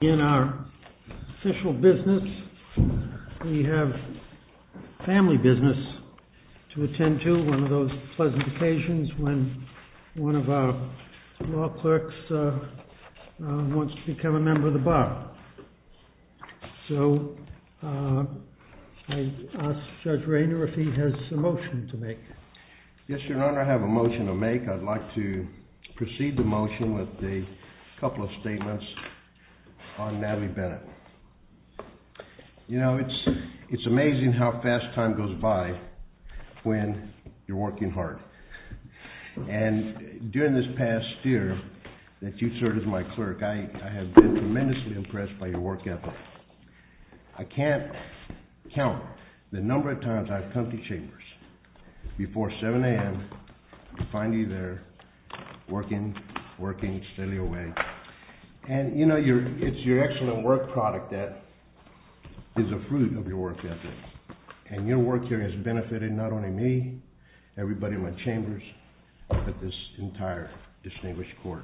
In our official business, we have family business to attend to, one of those pleasant occasions when one of our law clerks wants to become a member of the bar. So, I ask Judge Rayner if he has a motion to make. Yes, Your Honor, I have a motion to make. I'd like to proceed the motion with a couple of statements on Natalie Bennett. You know, it's amazing how fast time goes by when you're working hard. And during this past year that you served as my clerk, I have been tremendously impressed by your work ethic. I can't count the number of times I've come to chambers before 7 a.m. to find you there working, working steadily away. And, you know, it's your excellent work product that is a fruit of your work ethic. And your work here has benefited not only me, everybody in my chambers, but this entire distinguished court.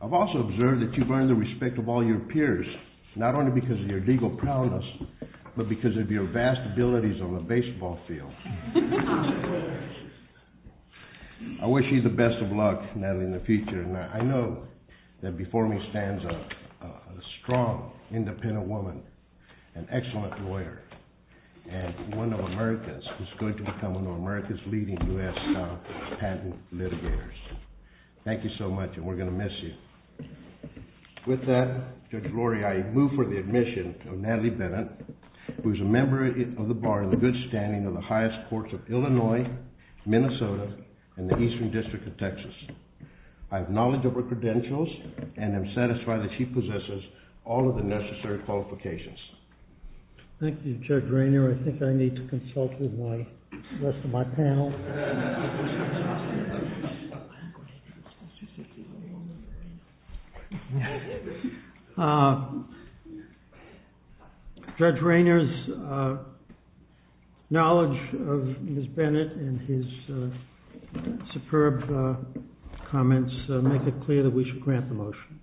I've also observed that you've earned the respect of all your peers, not only because of your legal proudness, but because of your vast abilities on the baseball field. I wish you the best of luck, Natalie, in the future. And I know that before me stands a strong, independent woman, an excellent lawyer, and one of America's who's going to become one of America's leading U.S. patent litigators. Thank you so much, and we're going to miss you. With that, Judge Lorre, I move for the admission of Natalie Bennett, who is a member of the bar in the good standing of the highest courts of Illinois, Minnesota, and the Eastern District of Texas. I have knowledge of her credentials and am satisfied that she possesses all of the necessary qualifications. Thank you, Judge Rainer. I think I need to consult with the rest of my panel. Judge Rainer's knowledge of Ms. Bennett and his superb comments make it clear that we should grant the motion.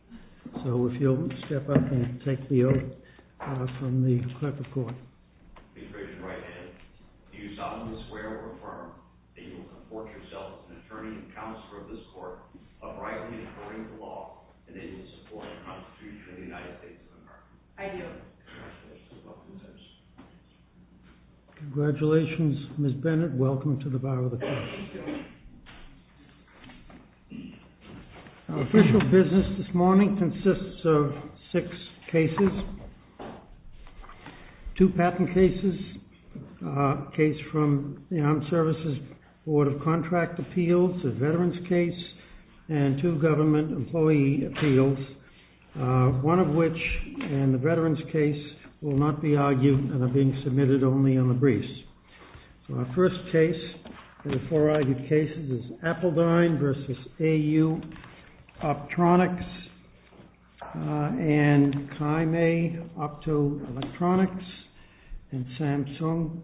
So if you'll step up and take the oath from the clerk of court. Congratulations, Ms. Bennett. Welcome to the bar of the court. Our official business this morning consists of six cases, two patent cases, a case from the Armed Services Board of Contract Appeals, a veterans case, and two government employee appeals, one of which, and the veterans case, will not be argued and are being submitted only on the briefs. So our first case in the four argued cases is Appledine versus AU Optronics and Kaimei Opto Electronics and Samsung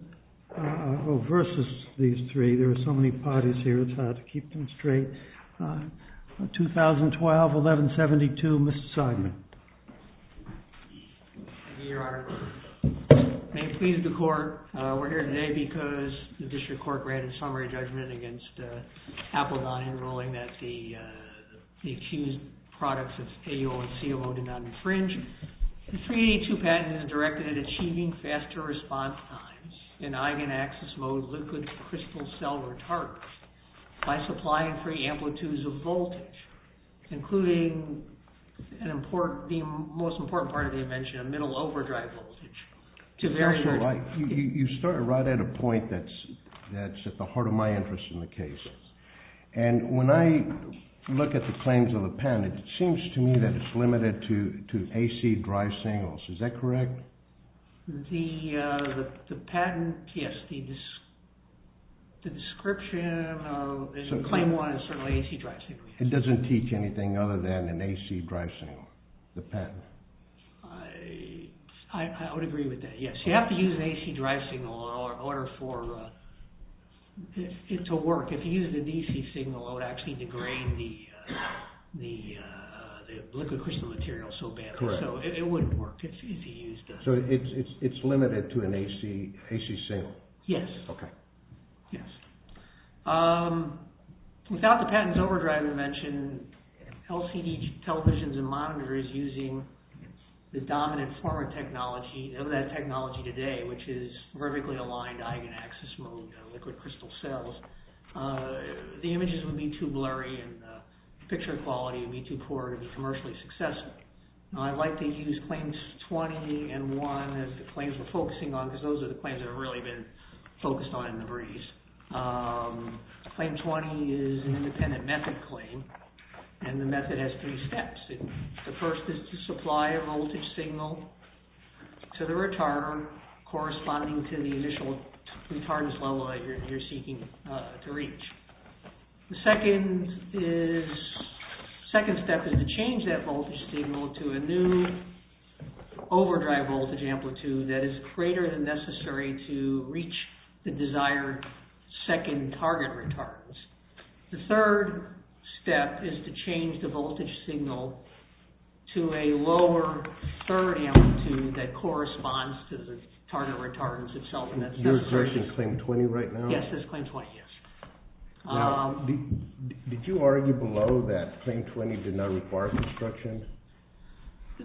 versus these three. There are so many parties here, it's hard to keep them straight. 2012-11-72, Mr. Seidman. Thank you, Your Honor. May it please the court, we're here today because the district court granted summary judgment against Appledine in ruling that the accused products of AU and CO did not infringe. The 382 patent is directed at achieving faster response times in eigenaxis mode liquid crystal cell retarders by supplying free amplitudes of voltage, including the most important part of the invention, a middle overdrive voltage. You started right at a point that's at the heart of my interest in the case. And when I look at the claims of the patent, it seems to me that it's limited to AC drive signals, is that correct? The patent, yes, the description, claim one is certainly AC drive signals. It doesn't teach anything other than an AC drive signal, the patent. I would agree with that, yes. You have to use an AC drive signal in order for it to work. If you use the DC signal, it would actually degrade the liquid crystal material so badly, so it wouldn't work. So it's limited to an AC signal? Yes. Okay. Yes. Without the patent's overdrive invention, LCD televisions and monitors using the dominant form of technology, of that technology today, which is vertically aligned eigenaxis mode liquid crystal cells, the images would be too blurry and the picture quality would be too poor to be commercially successful. I like to use claims 20 and 1 as the claims we're focusing on, because those are the claims that have really been focused on in the briefs. Claim 20 is an independent method claim, and the method has three steps. The first is to supply a voltage signal to the retarder corresponding to the initial retardness level that you're seeking to reach. The second step is to change that voltage signal to a new overdrive voltage amplitude that is greater than necessary to reach the desired second target retardance. The third step is to change the voltage signal to a lower third amplitude that corresponds to the target retardance itself. You're referring to claim 20 right now? Yes, this claim 20, yes. Did you argue below that claim 20 did not require construction?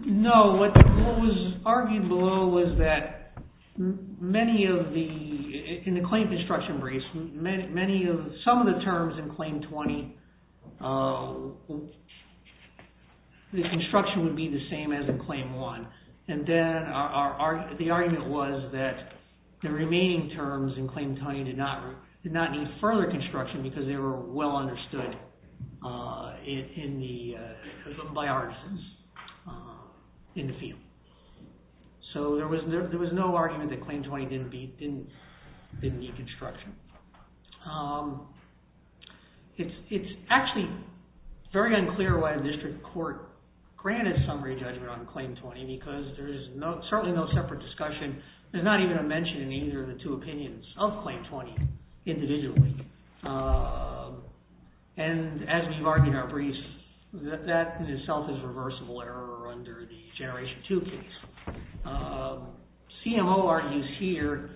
No, what was argued below was that many of the, in the claim construction briefs, some of the terms in claim 20, the construction would be the same as in claim 1. And then the argument was that the remaining terms in claim 20 did not need further construction because they were well understood by artisans in the field. So there was no argument that claim 20 didn't need construction. It's actually very unclear why the district court granted summary judgment on claim 20 because there is certainly no separate discussion. There's not even a mention in either of the two opinions of claim 20 individually. And as we've argued in our briefs, that in itself is reversible error under the generation 2 case. CMO argues here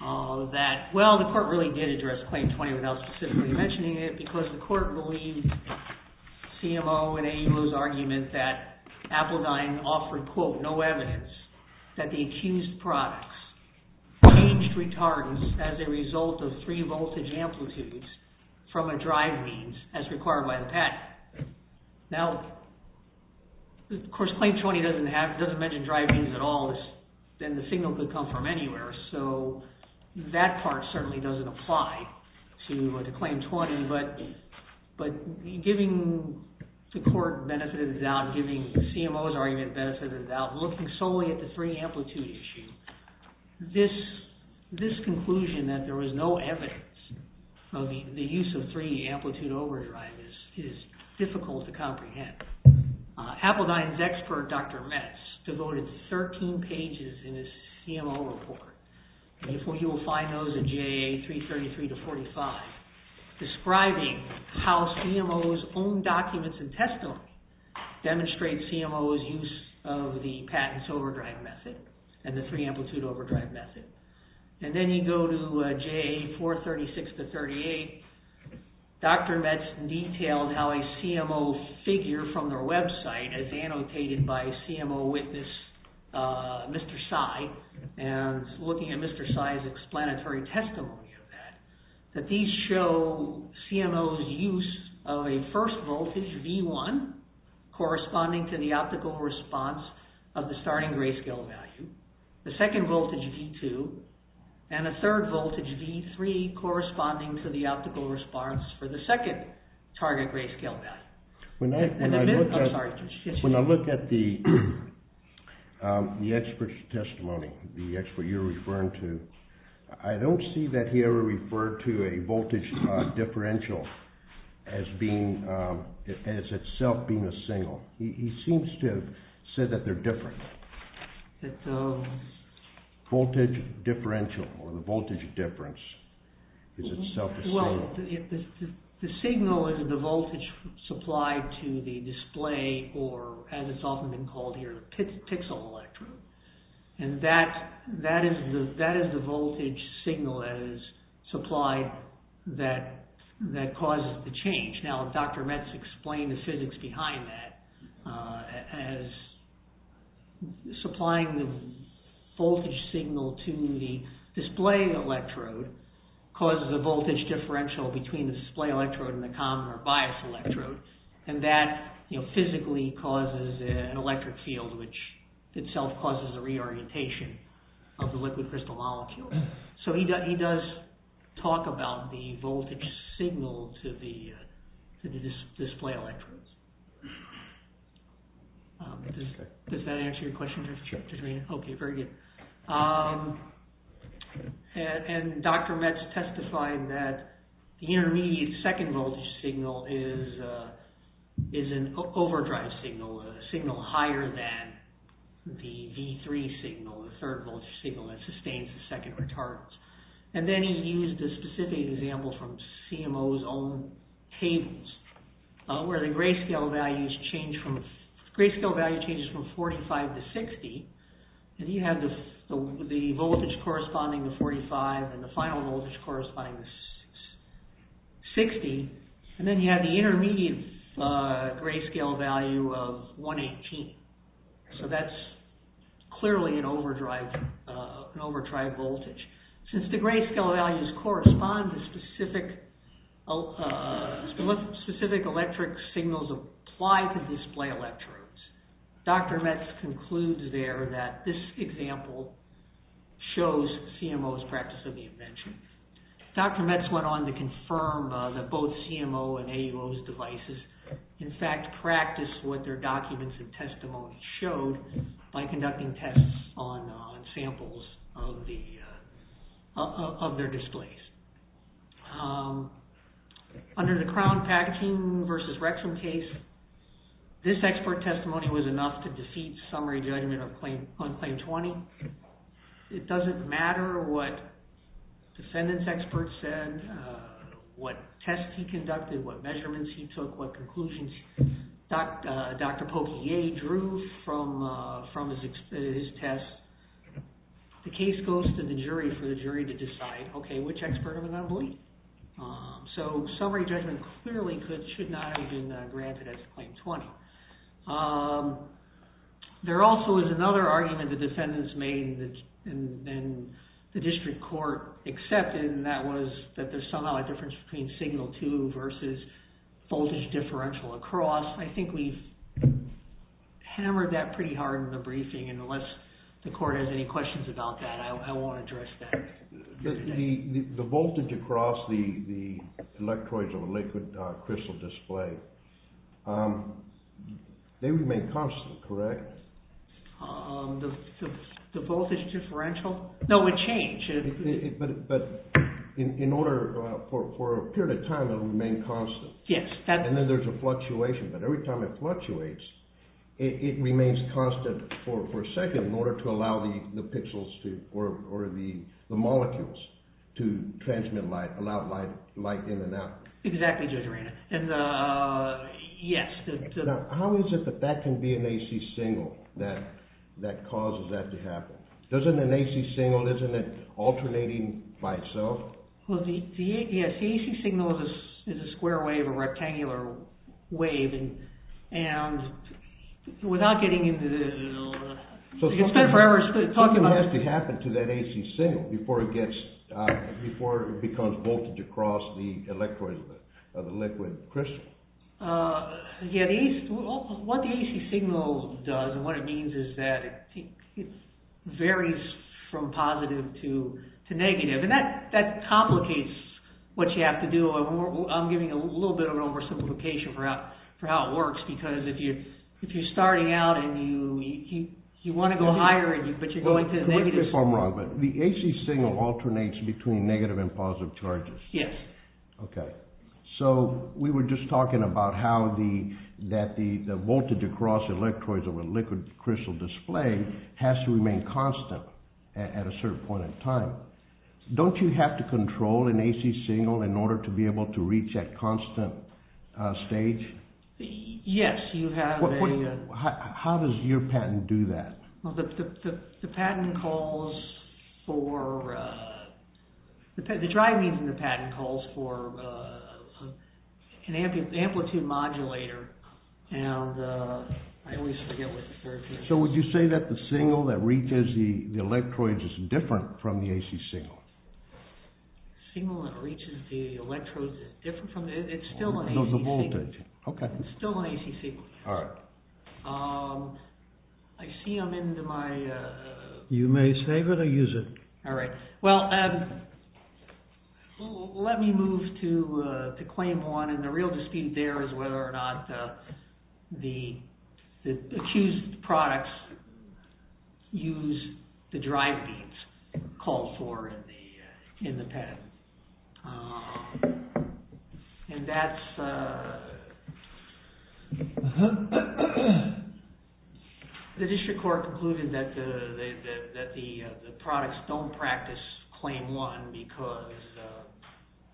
that, well, the court really did address claim 20 without specifically mentioning it because the court believed CMO and AUO's argument that Appledine offered, quote, no evidence that the accused products changed retardance as a result of three voltage amplitudes from a drive means as required by the patent. Now, of course, claim 20 doesn't have, doesn't mention drive means at all, and the signal could come from anywhere. So that part certainly doesn't apply to claim 20. But giving the court benefit of the doubt, giving CMO's argument benefit of the doubt, looking solely at the three amplitude issue, this conclusion that there was no evidence of the use of three amplitude overdrive is difficult to comprehend. Appledine's expert, Dr. Metz, devoted 13 pages in his CMO report. You will find those in JA 333 to 45, describing how CMO's own documents and testimony demonstrate CMO's use of the patents overdrive method and the three amplitude overdrive method. And then you go to JA 436 to 38, Dr. Metz detailed how a CMO figure from their website is annotated by CMO witness, Mr. Tsai, and looking at Mr. Tsai's explanatory testimony of that, that these show CMO's use of a first voltage V1, corresponding to the optical response of the starting grayscale value. The second voltage V2, and a third voltage V3, corresponding to the optical response for the second target grayscale value. When I look at the expert's testimony, the expert you're referring to, I don't see that he ever referred to a voltage differential as being, as itself being a single. He seems to have said that they're different. That the voltage differential, or the voltage difference, is itself a single. Well, the signal is the voltage supplied to the display, or as it's often been called here, the pixel electrode. And that is the voltage signal that is supplied that causes the change. Now, Dr. Metz explained the physics behind that as supplying the voltage signal to the display electrode causes a voltage differential between the display electrode and the common or bias electrode. And that physically causes an electric field, which itself causes a reorientation of the liquid crystal molecules. So he does talk about the voltage signal to the display electrodes. Does that answer your question? Sure. Okay, very good. And Dr. Metz testified that the intermediate second voltage signal is an overdrive signal, a signal higher than the V3 signal, the third voltage signal that sustains the second retardance. And then he used a specific example from CMO's own tables, where the grayscale value changes from 45 to 60. And you have the voltage corresponding to 45 and the final voltage corresponding to 60. And then you have the intermediate grayscale value of 118. So that's clearly an overdrive voltage. Since the grayscale values correspond to specific electric signals applied to display electrodes, Dr. Metz concludes there, that this example shows CMO's practice of the invention. Dr. Metz went on to confirm that both CMO and AUO's devices, in fact, practiced what their documents and testimony showed by conducting tests on samples of their displays. Under the crown packaging versus rectum case, this expert testimony was enough to defeat summary judgment on claim 20. It doesn't matter what defendants' experts said, what tests he conducted, what measurements he took, what conclusions Dr. Poquier drew from his tests. The case goes to the jury for the jury to decide, okay, which expert am I going to believe? So summary judgment clearly should not have been granted as claim 20. There also is another argument the defendants made and the district court accepted, and that was that there's somehow a difference between signal 2 versus voltage differential across. I think we've hammered that pretty hard in the briefing, and unless the court has any questions about that, I won't address that. The voltage across the electrodes of a liquid crystal display, they remain constant, correct? The voltage differential? No, it changed. But in order, for a period of time, it'll remain constant. And then there's a fluctuation, but every time it fluctuates, it remains constant for a second in order to allow the molecules to transmit light, allow light in and out. Exactly, Judge Arena. Now, how is it that that can be an AC signal that causes that to happen? Doesn't an AC signal, isn't it alternating by itself? Well, the AC signal is a square wave, a rectangular wave, and without getting into the... So something has to happen to that AC signal before it becomes voltage across the electrodes of the liquid crystal? Yeah, what the AC signal does and what it means is that it varies from positive to negative, and that complicates what you have to do. I'm giving a little bit of an oversimplification for how it works, because if you're starting out and you want to go higher, but you're going to negative... Well, correct me if I'm wrong, but the AC signal alternates between negative and positive charges? Yes. Okay, so we were just talking about how the voltage across the electrodes of a liquid crystal display has to remain constant at a certain point in time. Don't you have to control an AC signal in order to be able to reach that constant stage? Yes, you have a... How does your patent do that? Well, the patent calls for... The drive needs in the patent calls for an amplitude modulator, and I always forget what the third word is. So would you say that the signal that reaches the electrodes is different from the AC signal? The signal that reaches the electrodes is different from... It's still an AC signal. Oh, the voltage, okay. It's still an AC signal. All right. I see I'm into my... You may save it or use it. All right. Well, let me move to claim one, and the real dispute there is whether or not the accused products use the drive needs called for in the patent. And that's... The district court concluded that the products don't practice claim one because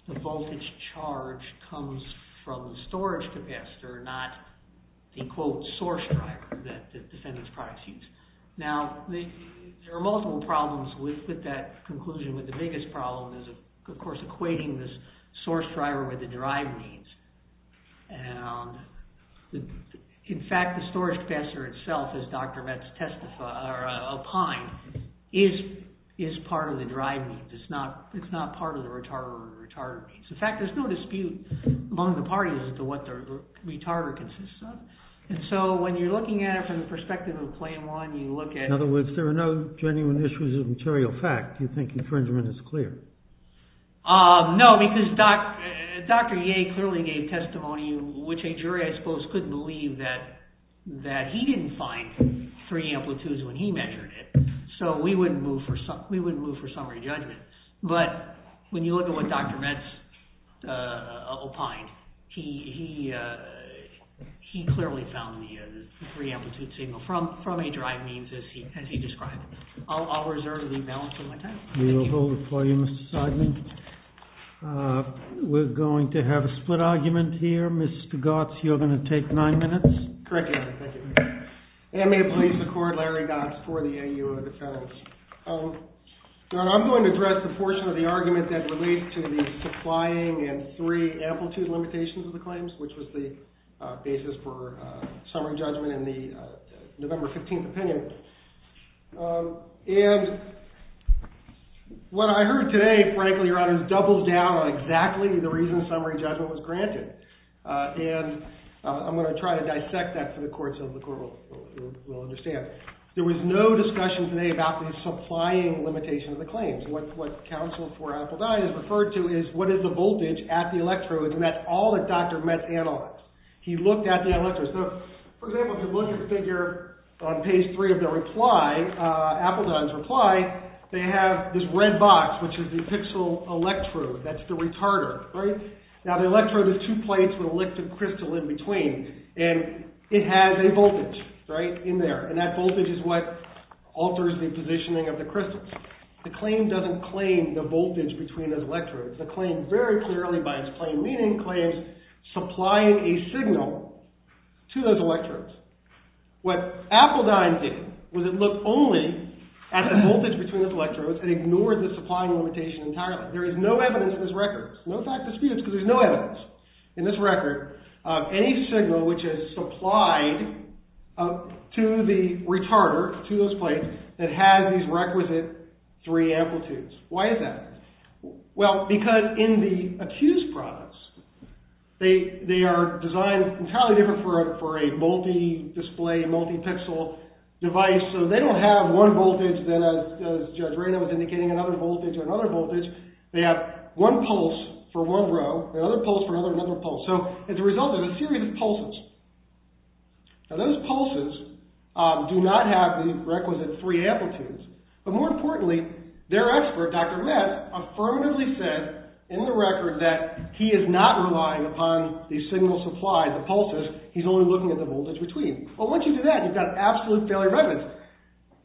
the voltage charge comes from the storage capacitor, not the, quote, source driver that the defendant's products use. Now, there are multiple problems with that conclusion, but the biggest problem is, of course, equating this source driver with the drive needs. And in fact, the storage capacitor itself, as Dr. Metz testified, or opined, is part of the drive needs. It's not part of the retarder or the retarder needs. In fact, there's no dispute among the parties as to what the retarder consists of. And so when you're looking at it from the perspective of claim one, you look at... In other words, there are no genuine issues of material fact. Do you think infringement is clear? No, because Dr. Yeh clearly gave testimony, which a jury, I suppose, couldn't believe that he didn't find three amplitudes when he measured it. So we wouldn't move for summary judgment. But when you look at what Dr. Metz opined, he clearly found the three amplitude signal from a drive needs, as he described. I'll reserve the balance of my time. We will hold it for you, Mr. Seidman. We're going to have a split argument here. Mr. Gotts, you're going to take nine minutes. Correct, Your Honor. Thank you. And may it please the court, Larry Gotts for the AU of the felons. Your Honor, I'm going to address the portion of the argument that relates to the supplying and three amplitude limitations of the claims, which was the basis for summary judgment in the November 15th opinion. And what I heard today, frankly, Your Honor, doubles down on exactly the reason summary judgment was granted. And I'm going to try to dissect that for the court so the court will understand. There was no discussion today about the supplying limitation of the claims. What counsel for Appledine has referred to is, what is the voltage at the electrode? And that's all that Dr. Metz analyzed. He looked at the electrodes. So, for example, if you look at the figure on page three of the reply, Appledine's reply, they have this red box, which is the pixel electrode. That's the retarder, right? Now, the electrode is two plates with a liquid crystal in between. And it has a voltage, right, in there. And that voltage is what alters the positioning of the crystals. The claim doesn't claim the voltage between those electrodes. The claim very clearly, by its plain meaning, claims supplying a signal to those electrodes. What Appledine did was it looked only at the voltage between those electrodes and ignored the supplying limitation entirely. There is no evidence in this record. No fact disputes because there's no evidence in this record. Any signal which is supplied to the retarder, to those plates, that has these requisite three amplitudes. Why is that? Well, because in the accused products, they are designed entirely different for a multi-display, multi-pixel device. So they don't have one voltage that, as Judge Reyna was indicating, another voltage or another voltage. They have one pulse for one row, another pulse for another, another pulse. So it's a result of a series of pulses. Now, those pulses do not have the requisite three amplitudes. But more importantly, their expert, Dr. Metz, affirmatively said in the record that he is not relying upon the signal supplied, the pulses. He's only looking at the voltage between. Well, once you do that, you've got absolute failure of evidence.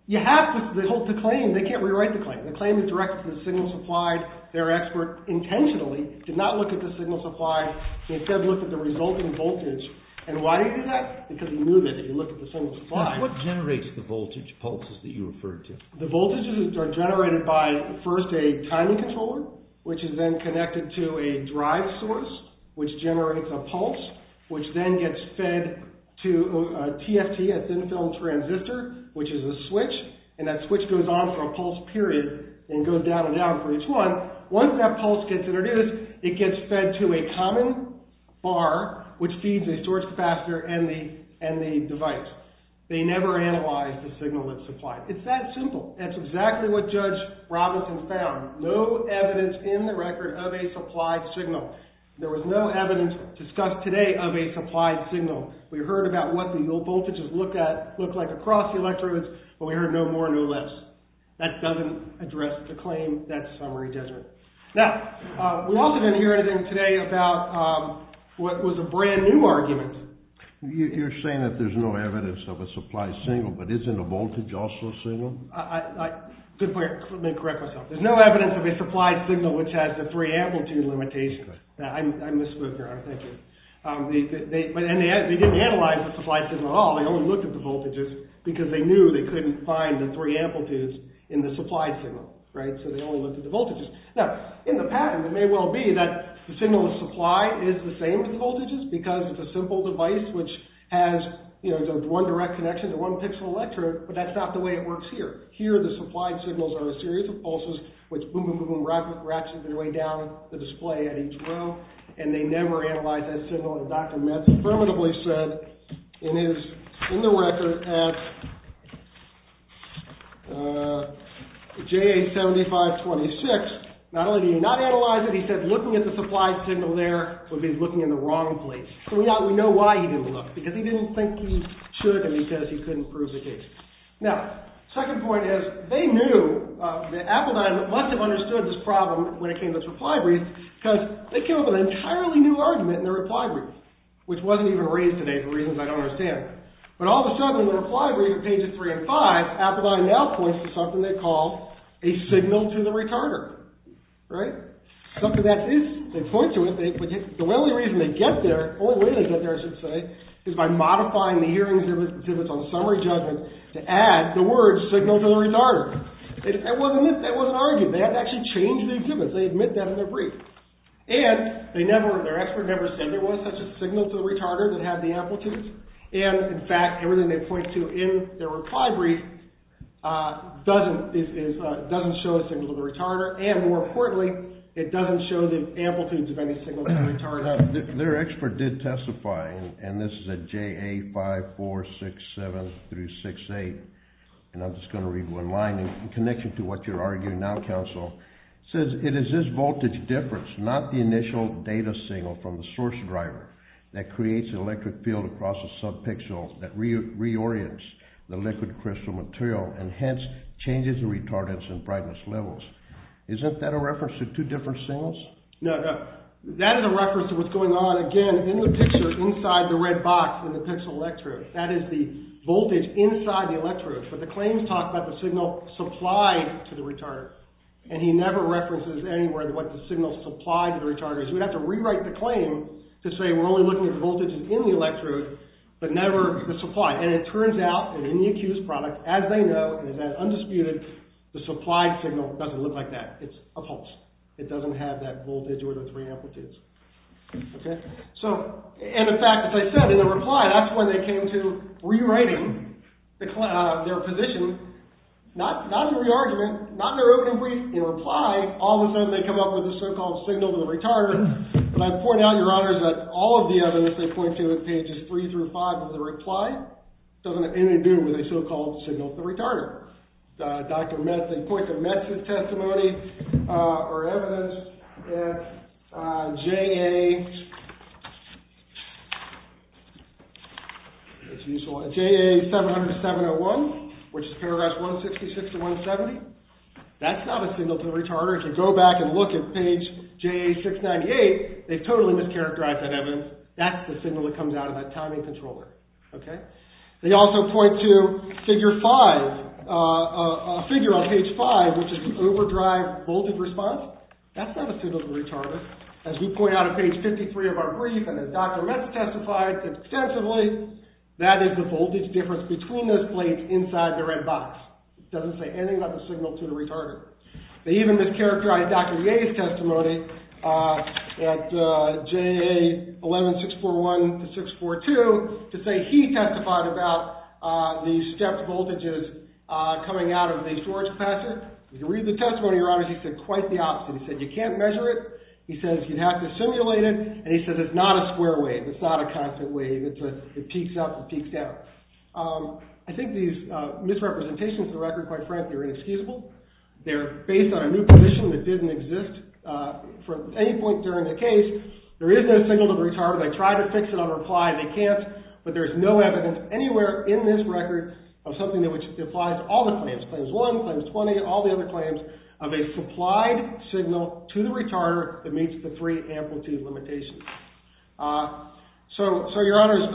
You have to hold the claim. They can't rewrite the claim. The claim is directed to the signal supplied. Their expert intentionally did not look at the signal supplied. He instead looked at the resulting voltage. And why did he do that? Because he knew that if you looked at the signal supplied. What generates the voltage pulses that you referred to? The voltages are generated by, first, a timing controller, which is then connected to a drive source, which generates a pulse, which then gets fed to a TFT, a thin-film transistor, which is a switch. And that switch goes on for a pulse period and goes down and down for each one. Once that pulse gets introduced, it gets fed to a common bar, which feeds a storage capacitor and the device. They never analyzed the signal that's supplied. It's that simple. That's exactly what Judge Robinson found. No evidence in the record of a supplied signal. There was no evidence discussed today of a supplied signal. We heard about what the voltages looked like across the electrodes, but we heard no more, no less. That doesn't address the claim. That summary doesn't. Now, we also didn't hear anything today about what was a brand-new argument. You're saying that there's no evidence of a supplied signal, but isn't a voltage also a signal? Let me correct myself. There's no evidence of a supplied signal which has a free amplitude limitation. I'm the spook here. I'm thinking. And they didn't analyze the supplied signal at all. They only looked at the voltages because they knew they couldn't find the free amplitudes in the supplied signal. So they only looked at the voltages. Now, in the pattern, it may well be that the signal of supply is the same as the voltages because it's a simple device, which has one direct connection to one pixel electrode, but that's not the way it works here. Here, the supplied signals are a series of pulses, which boom, boom, boom, boom, ratchets their way down the display at each row, and they never analyzed that signal. And Dr. Metz affirmatively said in his, in the record, at JA7526, not only did he not analyze it, he said looking at the supplied signal there would be looking in the wrong place. So we know why he didn't look, because he didn't think he should and because he couldn't prove the case. Now, second point is, they knew that Appledyne must have understood this problem when it came to its reply brief, because they came up with an entirely new argument in their reply brief, which wasn't even raised today for reasons I don't understand. But all of a sudden, in the reply brief at pages three and five, Appledyne now points to something they call a signal to the retarder. Right? Something that is, they point to it. The only reason they get there, the only way they get there, I should say, is by modifying the hearing exhibits on summary judgment to add the word signal to the retarder. It wasn't, it wasn't argued. They had to actually change the exhibits. They admit that in their brief. And they never, their expert never said there was such a signal to the retarder that had the amplitudes. And, in fact, everything they point to in their reply brief doesn't, doesn't show a signal to the retarder, and more importantly, it doesn't show the amplitudes of any signal to the retarder. Now, their expert did testify, and this is at JA 5467-68, and I'm just going to read one line in connection to what you're arguing now, counsel. It says, it is this voltage difference, not the initial data signal from the source driver, that creates an electric field across a subpixel that reorients the liquid crystal material and hence changes the retardance and brightness levels. Isn't that a reference to two different signals? No, no. That is a reference to what's going on, again, in the picture, inside the red box in the pixel electrode. That is the voltage inside the electrode. But the claims talk about the signal supplied to the retarder, and he never references anywhere what the signal supplied to the retarder is. We'd have to rewrite the claim to say we're only looking at voltages in the electrode, but never the supply. And it turns out, in the accused product, as they know, and as undisputed, the supplied signal doesn't look like that. It's a pulse. It doesn't have that voltage or the three amplitudes. And in fact, as I said, in the reply, that's when they came to rewriting their position, not in re-argument, not in their opening brief, in reply, all of a sudden they come up with the so-called signal to the retarder. And I point out, Your Honors, that all of the evidence they point to in pages 3 through 5 of the reply doesn't have anything to do with a so-called signal to the retarder. Dr. Metz, they point to Metz's testimony, or evidence, in JA 707-01, which is paragraphs 166 to 170. That's not a signal to the retarder. If you go back and look at page JA 698, they've totally mischaracterized that evidence. That's the signal that comes out of that timing controller. They also point to a figure on page 5, which is the overdrive voltage response. That's not a signal to the retarder. As we point out on page 53 of our brief, and as Dr. Metz testified extensively, that is the voltage difference between those plates inside the red box. It doesn't say anything about the signal to the retarder. They even mischaracterized Dr. Yeh's testimony at JA 11641 to 642 to say he testified about the stepped voltages coming out of the storage capacitor. If you read the testimony, Your Honors, he said quite the opposite. He said, you can't measure it. He says, you have to simulate it. And he says, it's not a square wave. It's not a constant wave. It peaks up and peaks down. I think these misrepresentations of the record, quite frankly, are inexcusable. They're based on a new condition that didn't exist from any point during the case. There is no signal to the retarder. They tried to fix it on reply. They can't. But there's no evidence anywhere in this record of something that applies to all the claims. Claims 1, claims 20, all the other claims of a supplied signal to the retarder that meets the three amplitude limitations. So, Your Honors,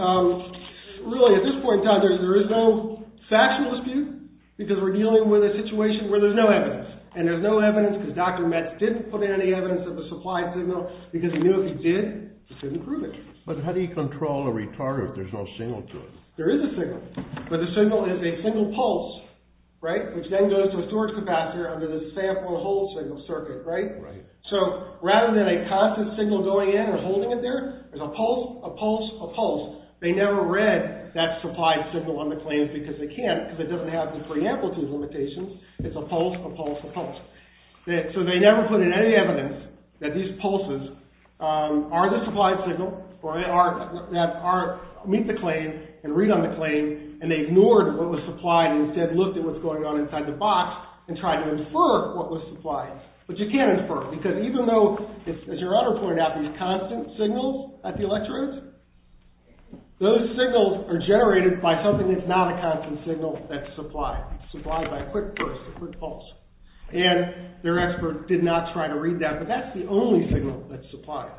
really at this point in time, there is no factual dispute because we're dealing with a situation where there's no evidence. And there's no evidence because Dr. Metz didn't put in any evidence of the supplied signal because he knew if he did, he couldn't prove it. But how do you control a retarder if there's no signal to it? There is a signal. But the signal is a single pulse, right? Which then goes to a storage capacitor under the sample and hold signal circuit, right? So, rather than a constant signal going in or holding it there, there's a pulse, a pulse, a pulse. They never read that supplied signal on the claims because they can't if it doesn't have the three amplitude limitations. It's a pulse, a pulse, a pulse. So they never put in any evidence that these pulses are the supplied signal or meet the claim and read on the claim and they ignored what was supplied and instead looked at what's going on inside the box and tried to infer what was supplied. But you can't infer because even though, as Your Honor pointed out, these constant signals at the electrodes, those signals are generated by something that's not a constant signal that's supplied, supplied by a quick burst, a quick pulse. And their expert did not try to read that. But that's the only signal that's supplied.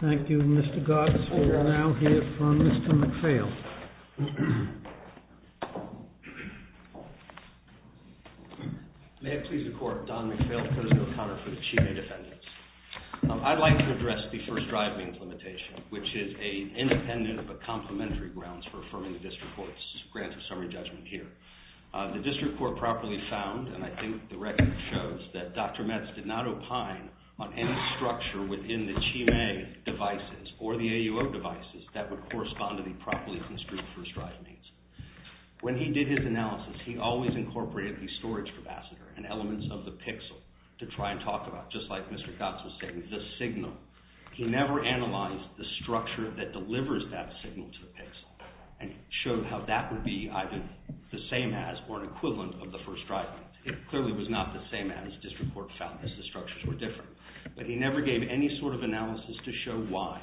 Thank you, Mr. Goss. We will now hear from Mr. McPhail. May it please the Court. Don McPhail, Court of Appeal of Counterfeit Achievement Defendants. I'd like to address the first drive means limitation, which is independent of the complementary grounds for affirming the district court's grant of summary judgment here. The district court properly found, and I think the record shows, that Dr. Metz did not opine on any structure within the Chime devices or the AUO devices that would correspond to the properly construed first drive means. When he did his analysis, he always incorporated the storage capacitor and elements of the pixel to try and talk about, just like Mr. Goss was saying, the signal. He never analyzed the structure that delivers that signal to the pixel and showed how that would be either the same as or an equivalent of the first drive means. It clearly was not the same as district court found, as the structures were different. But he never gave any sort of analysis to show why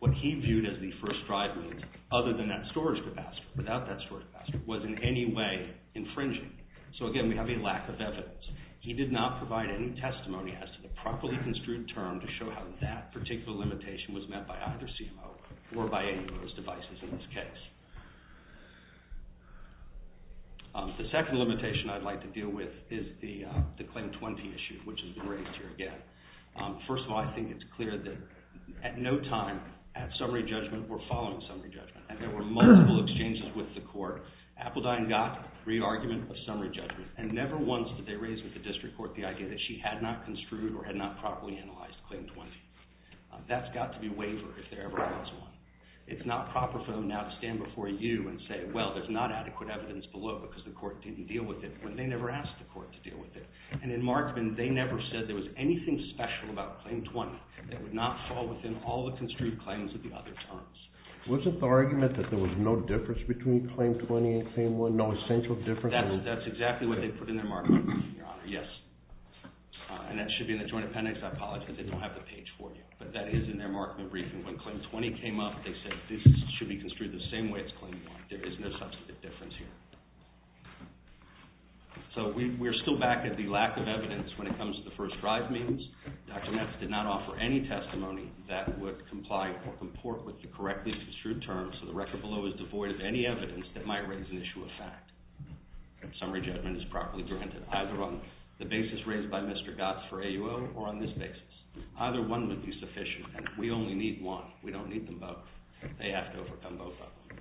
what he viewed as the first drive means, other than that storage capacitor, without that storage capacitor, was in any way infringing. So again, we have a lack of evidence. He did not provide any testimony as to the properly construed term to show how that particular limitation was met by either CMO or by any of those devices in this case. The second limitation I'd like to deal with is the Claim 20 issue, which has been raised here again. First of all, I think it's clear that at no time at summary judgment were following summary judgment, and there were multiple exchanges with the court. Appledine got re-argument of summary judgment, and never once did they raise with the district court the idea that she had not construed or had not properly analyzed Claim 20. That's got to be wavered if there ever was one. It's not proper for them now to stand before you and say, well, there's not adequate evidence below it because the court didn't deal with it, when they never asked the court to deal with it. And in Marksman, they never said there was anything special about Claim 20 that would not fall within all the construed claims of the other terms. Wasn't the argument that there was no difference between Claim 20 and Claim 1, no essential difference? That's exactly what they put in their Marksman, Your Honor, yes. And that should be in the Joint Appendix. I apologize, they don't have the page for you. But that is in their Marksman briefing. When Claim 20 came up, they said this should be construed the same way as Claim 1. There is no substantive difference here. So we're still back at the lack of evidence when it comes to the first drive means. Dr. Metz did not offer any testimony that would comply or comport with the correctly construed terms, so the record below is devoid of any evidence that might raise an issue of fact. Summary judgment is properly granted either on the basis raised by Mr. Gotts for AUO or on this basis. Either one would be sufficient, and we only need one. We don't need them both. They have to overcome both of them.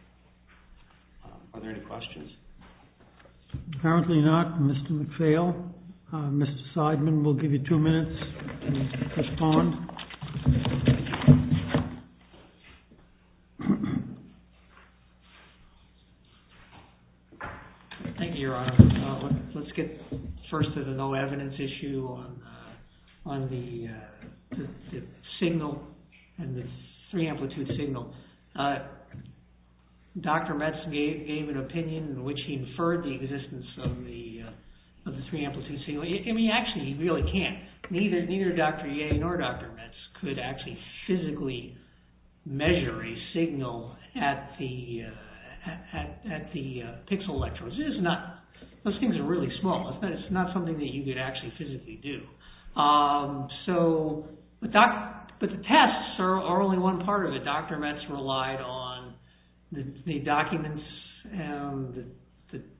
Are there any questions? Apparently not. Mr. McPhail? Mr. Seidman, we'll give you two minutes to respond. Thank you, Your Honor. Let's get first to the no evidence issue on the signal and the three amplitude signal. Dr. Metz gave an opinion in which he inferred the existence of the three amplitude signal. Actually, he really can't. Neither Dr. Yeh nor Dr. Metz could actually physically measure a signal at the pixel electrodes. Those things are really small. It's not something that you could actually physically do. But the tests are only one part of it. Dr. Metz relied on the documents and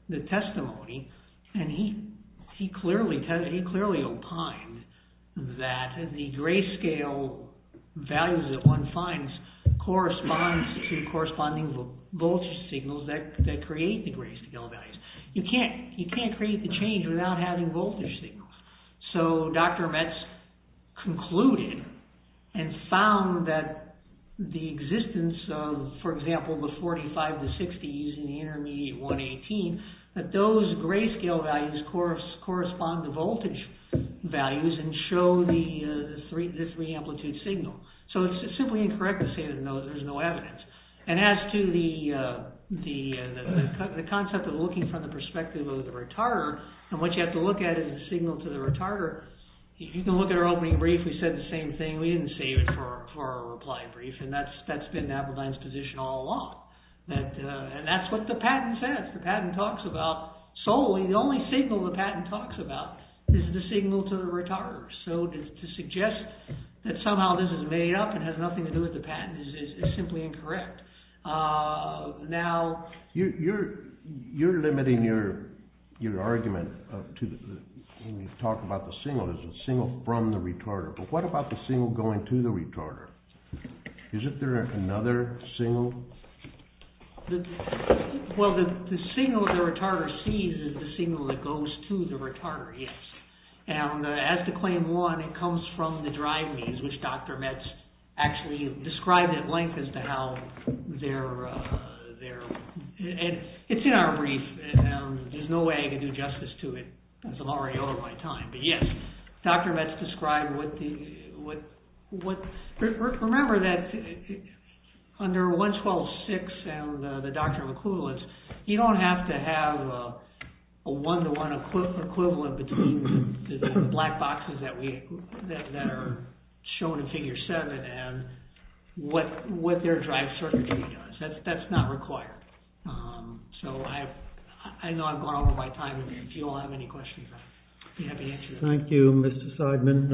the testimony, and he clearly opined that the grayscale values that one finds correspond to corresponding voltage signals that create the grayscale values. You can't create the change without having voltage signals. So Dr. Metz concluded and found that the existence of, for example, the 45, the 60s, and the intermediate 118, that those grayscale values correspond to voltage values and show the three amplitude signal. So it's simply incorrect to say that there's no evidence. And as to the concept of looking from the perspective of the retarder, and what you have to look at is the signal to the retarder. If you can look at our opening brief, we said the same thing. We didn't save it for our reply brief, and that's been Appledine's position all along. And that's what the patent says. The patent talks about solely, the only signal the patent talks about is the signal to the retarder. So to suggest that somehow this is made up and has nothing to do with the patent is simply incorrect. Now... You're limiting your argument when you talk about the signal. There's a signal from the retarder. But what about the signal going to the retarder? Is there another signal? Well, the signal the retarder sees is the signal that goes to the retarder, yes. And as to claim one, it comes from the drive means, which Dr. Metz actually described at length as to how their... It's in our brief. There's no way I can do justice to it. I'm already over my time. But yes, Dr. Metz described what... Remember that under 112.6 and the doctrine of equivalence, you don't have to have a one-to-one equivalent between the black boxes that are shown in Figure 7 and what their drive circuitry does. That's not required. So I know I've gone over my time. If you all have any questions, I'd be happy to answer them. Thank you, Mr. Seidman.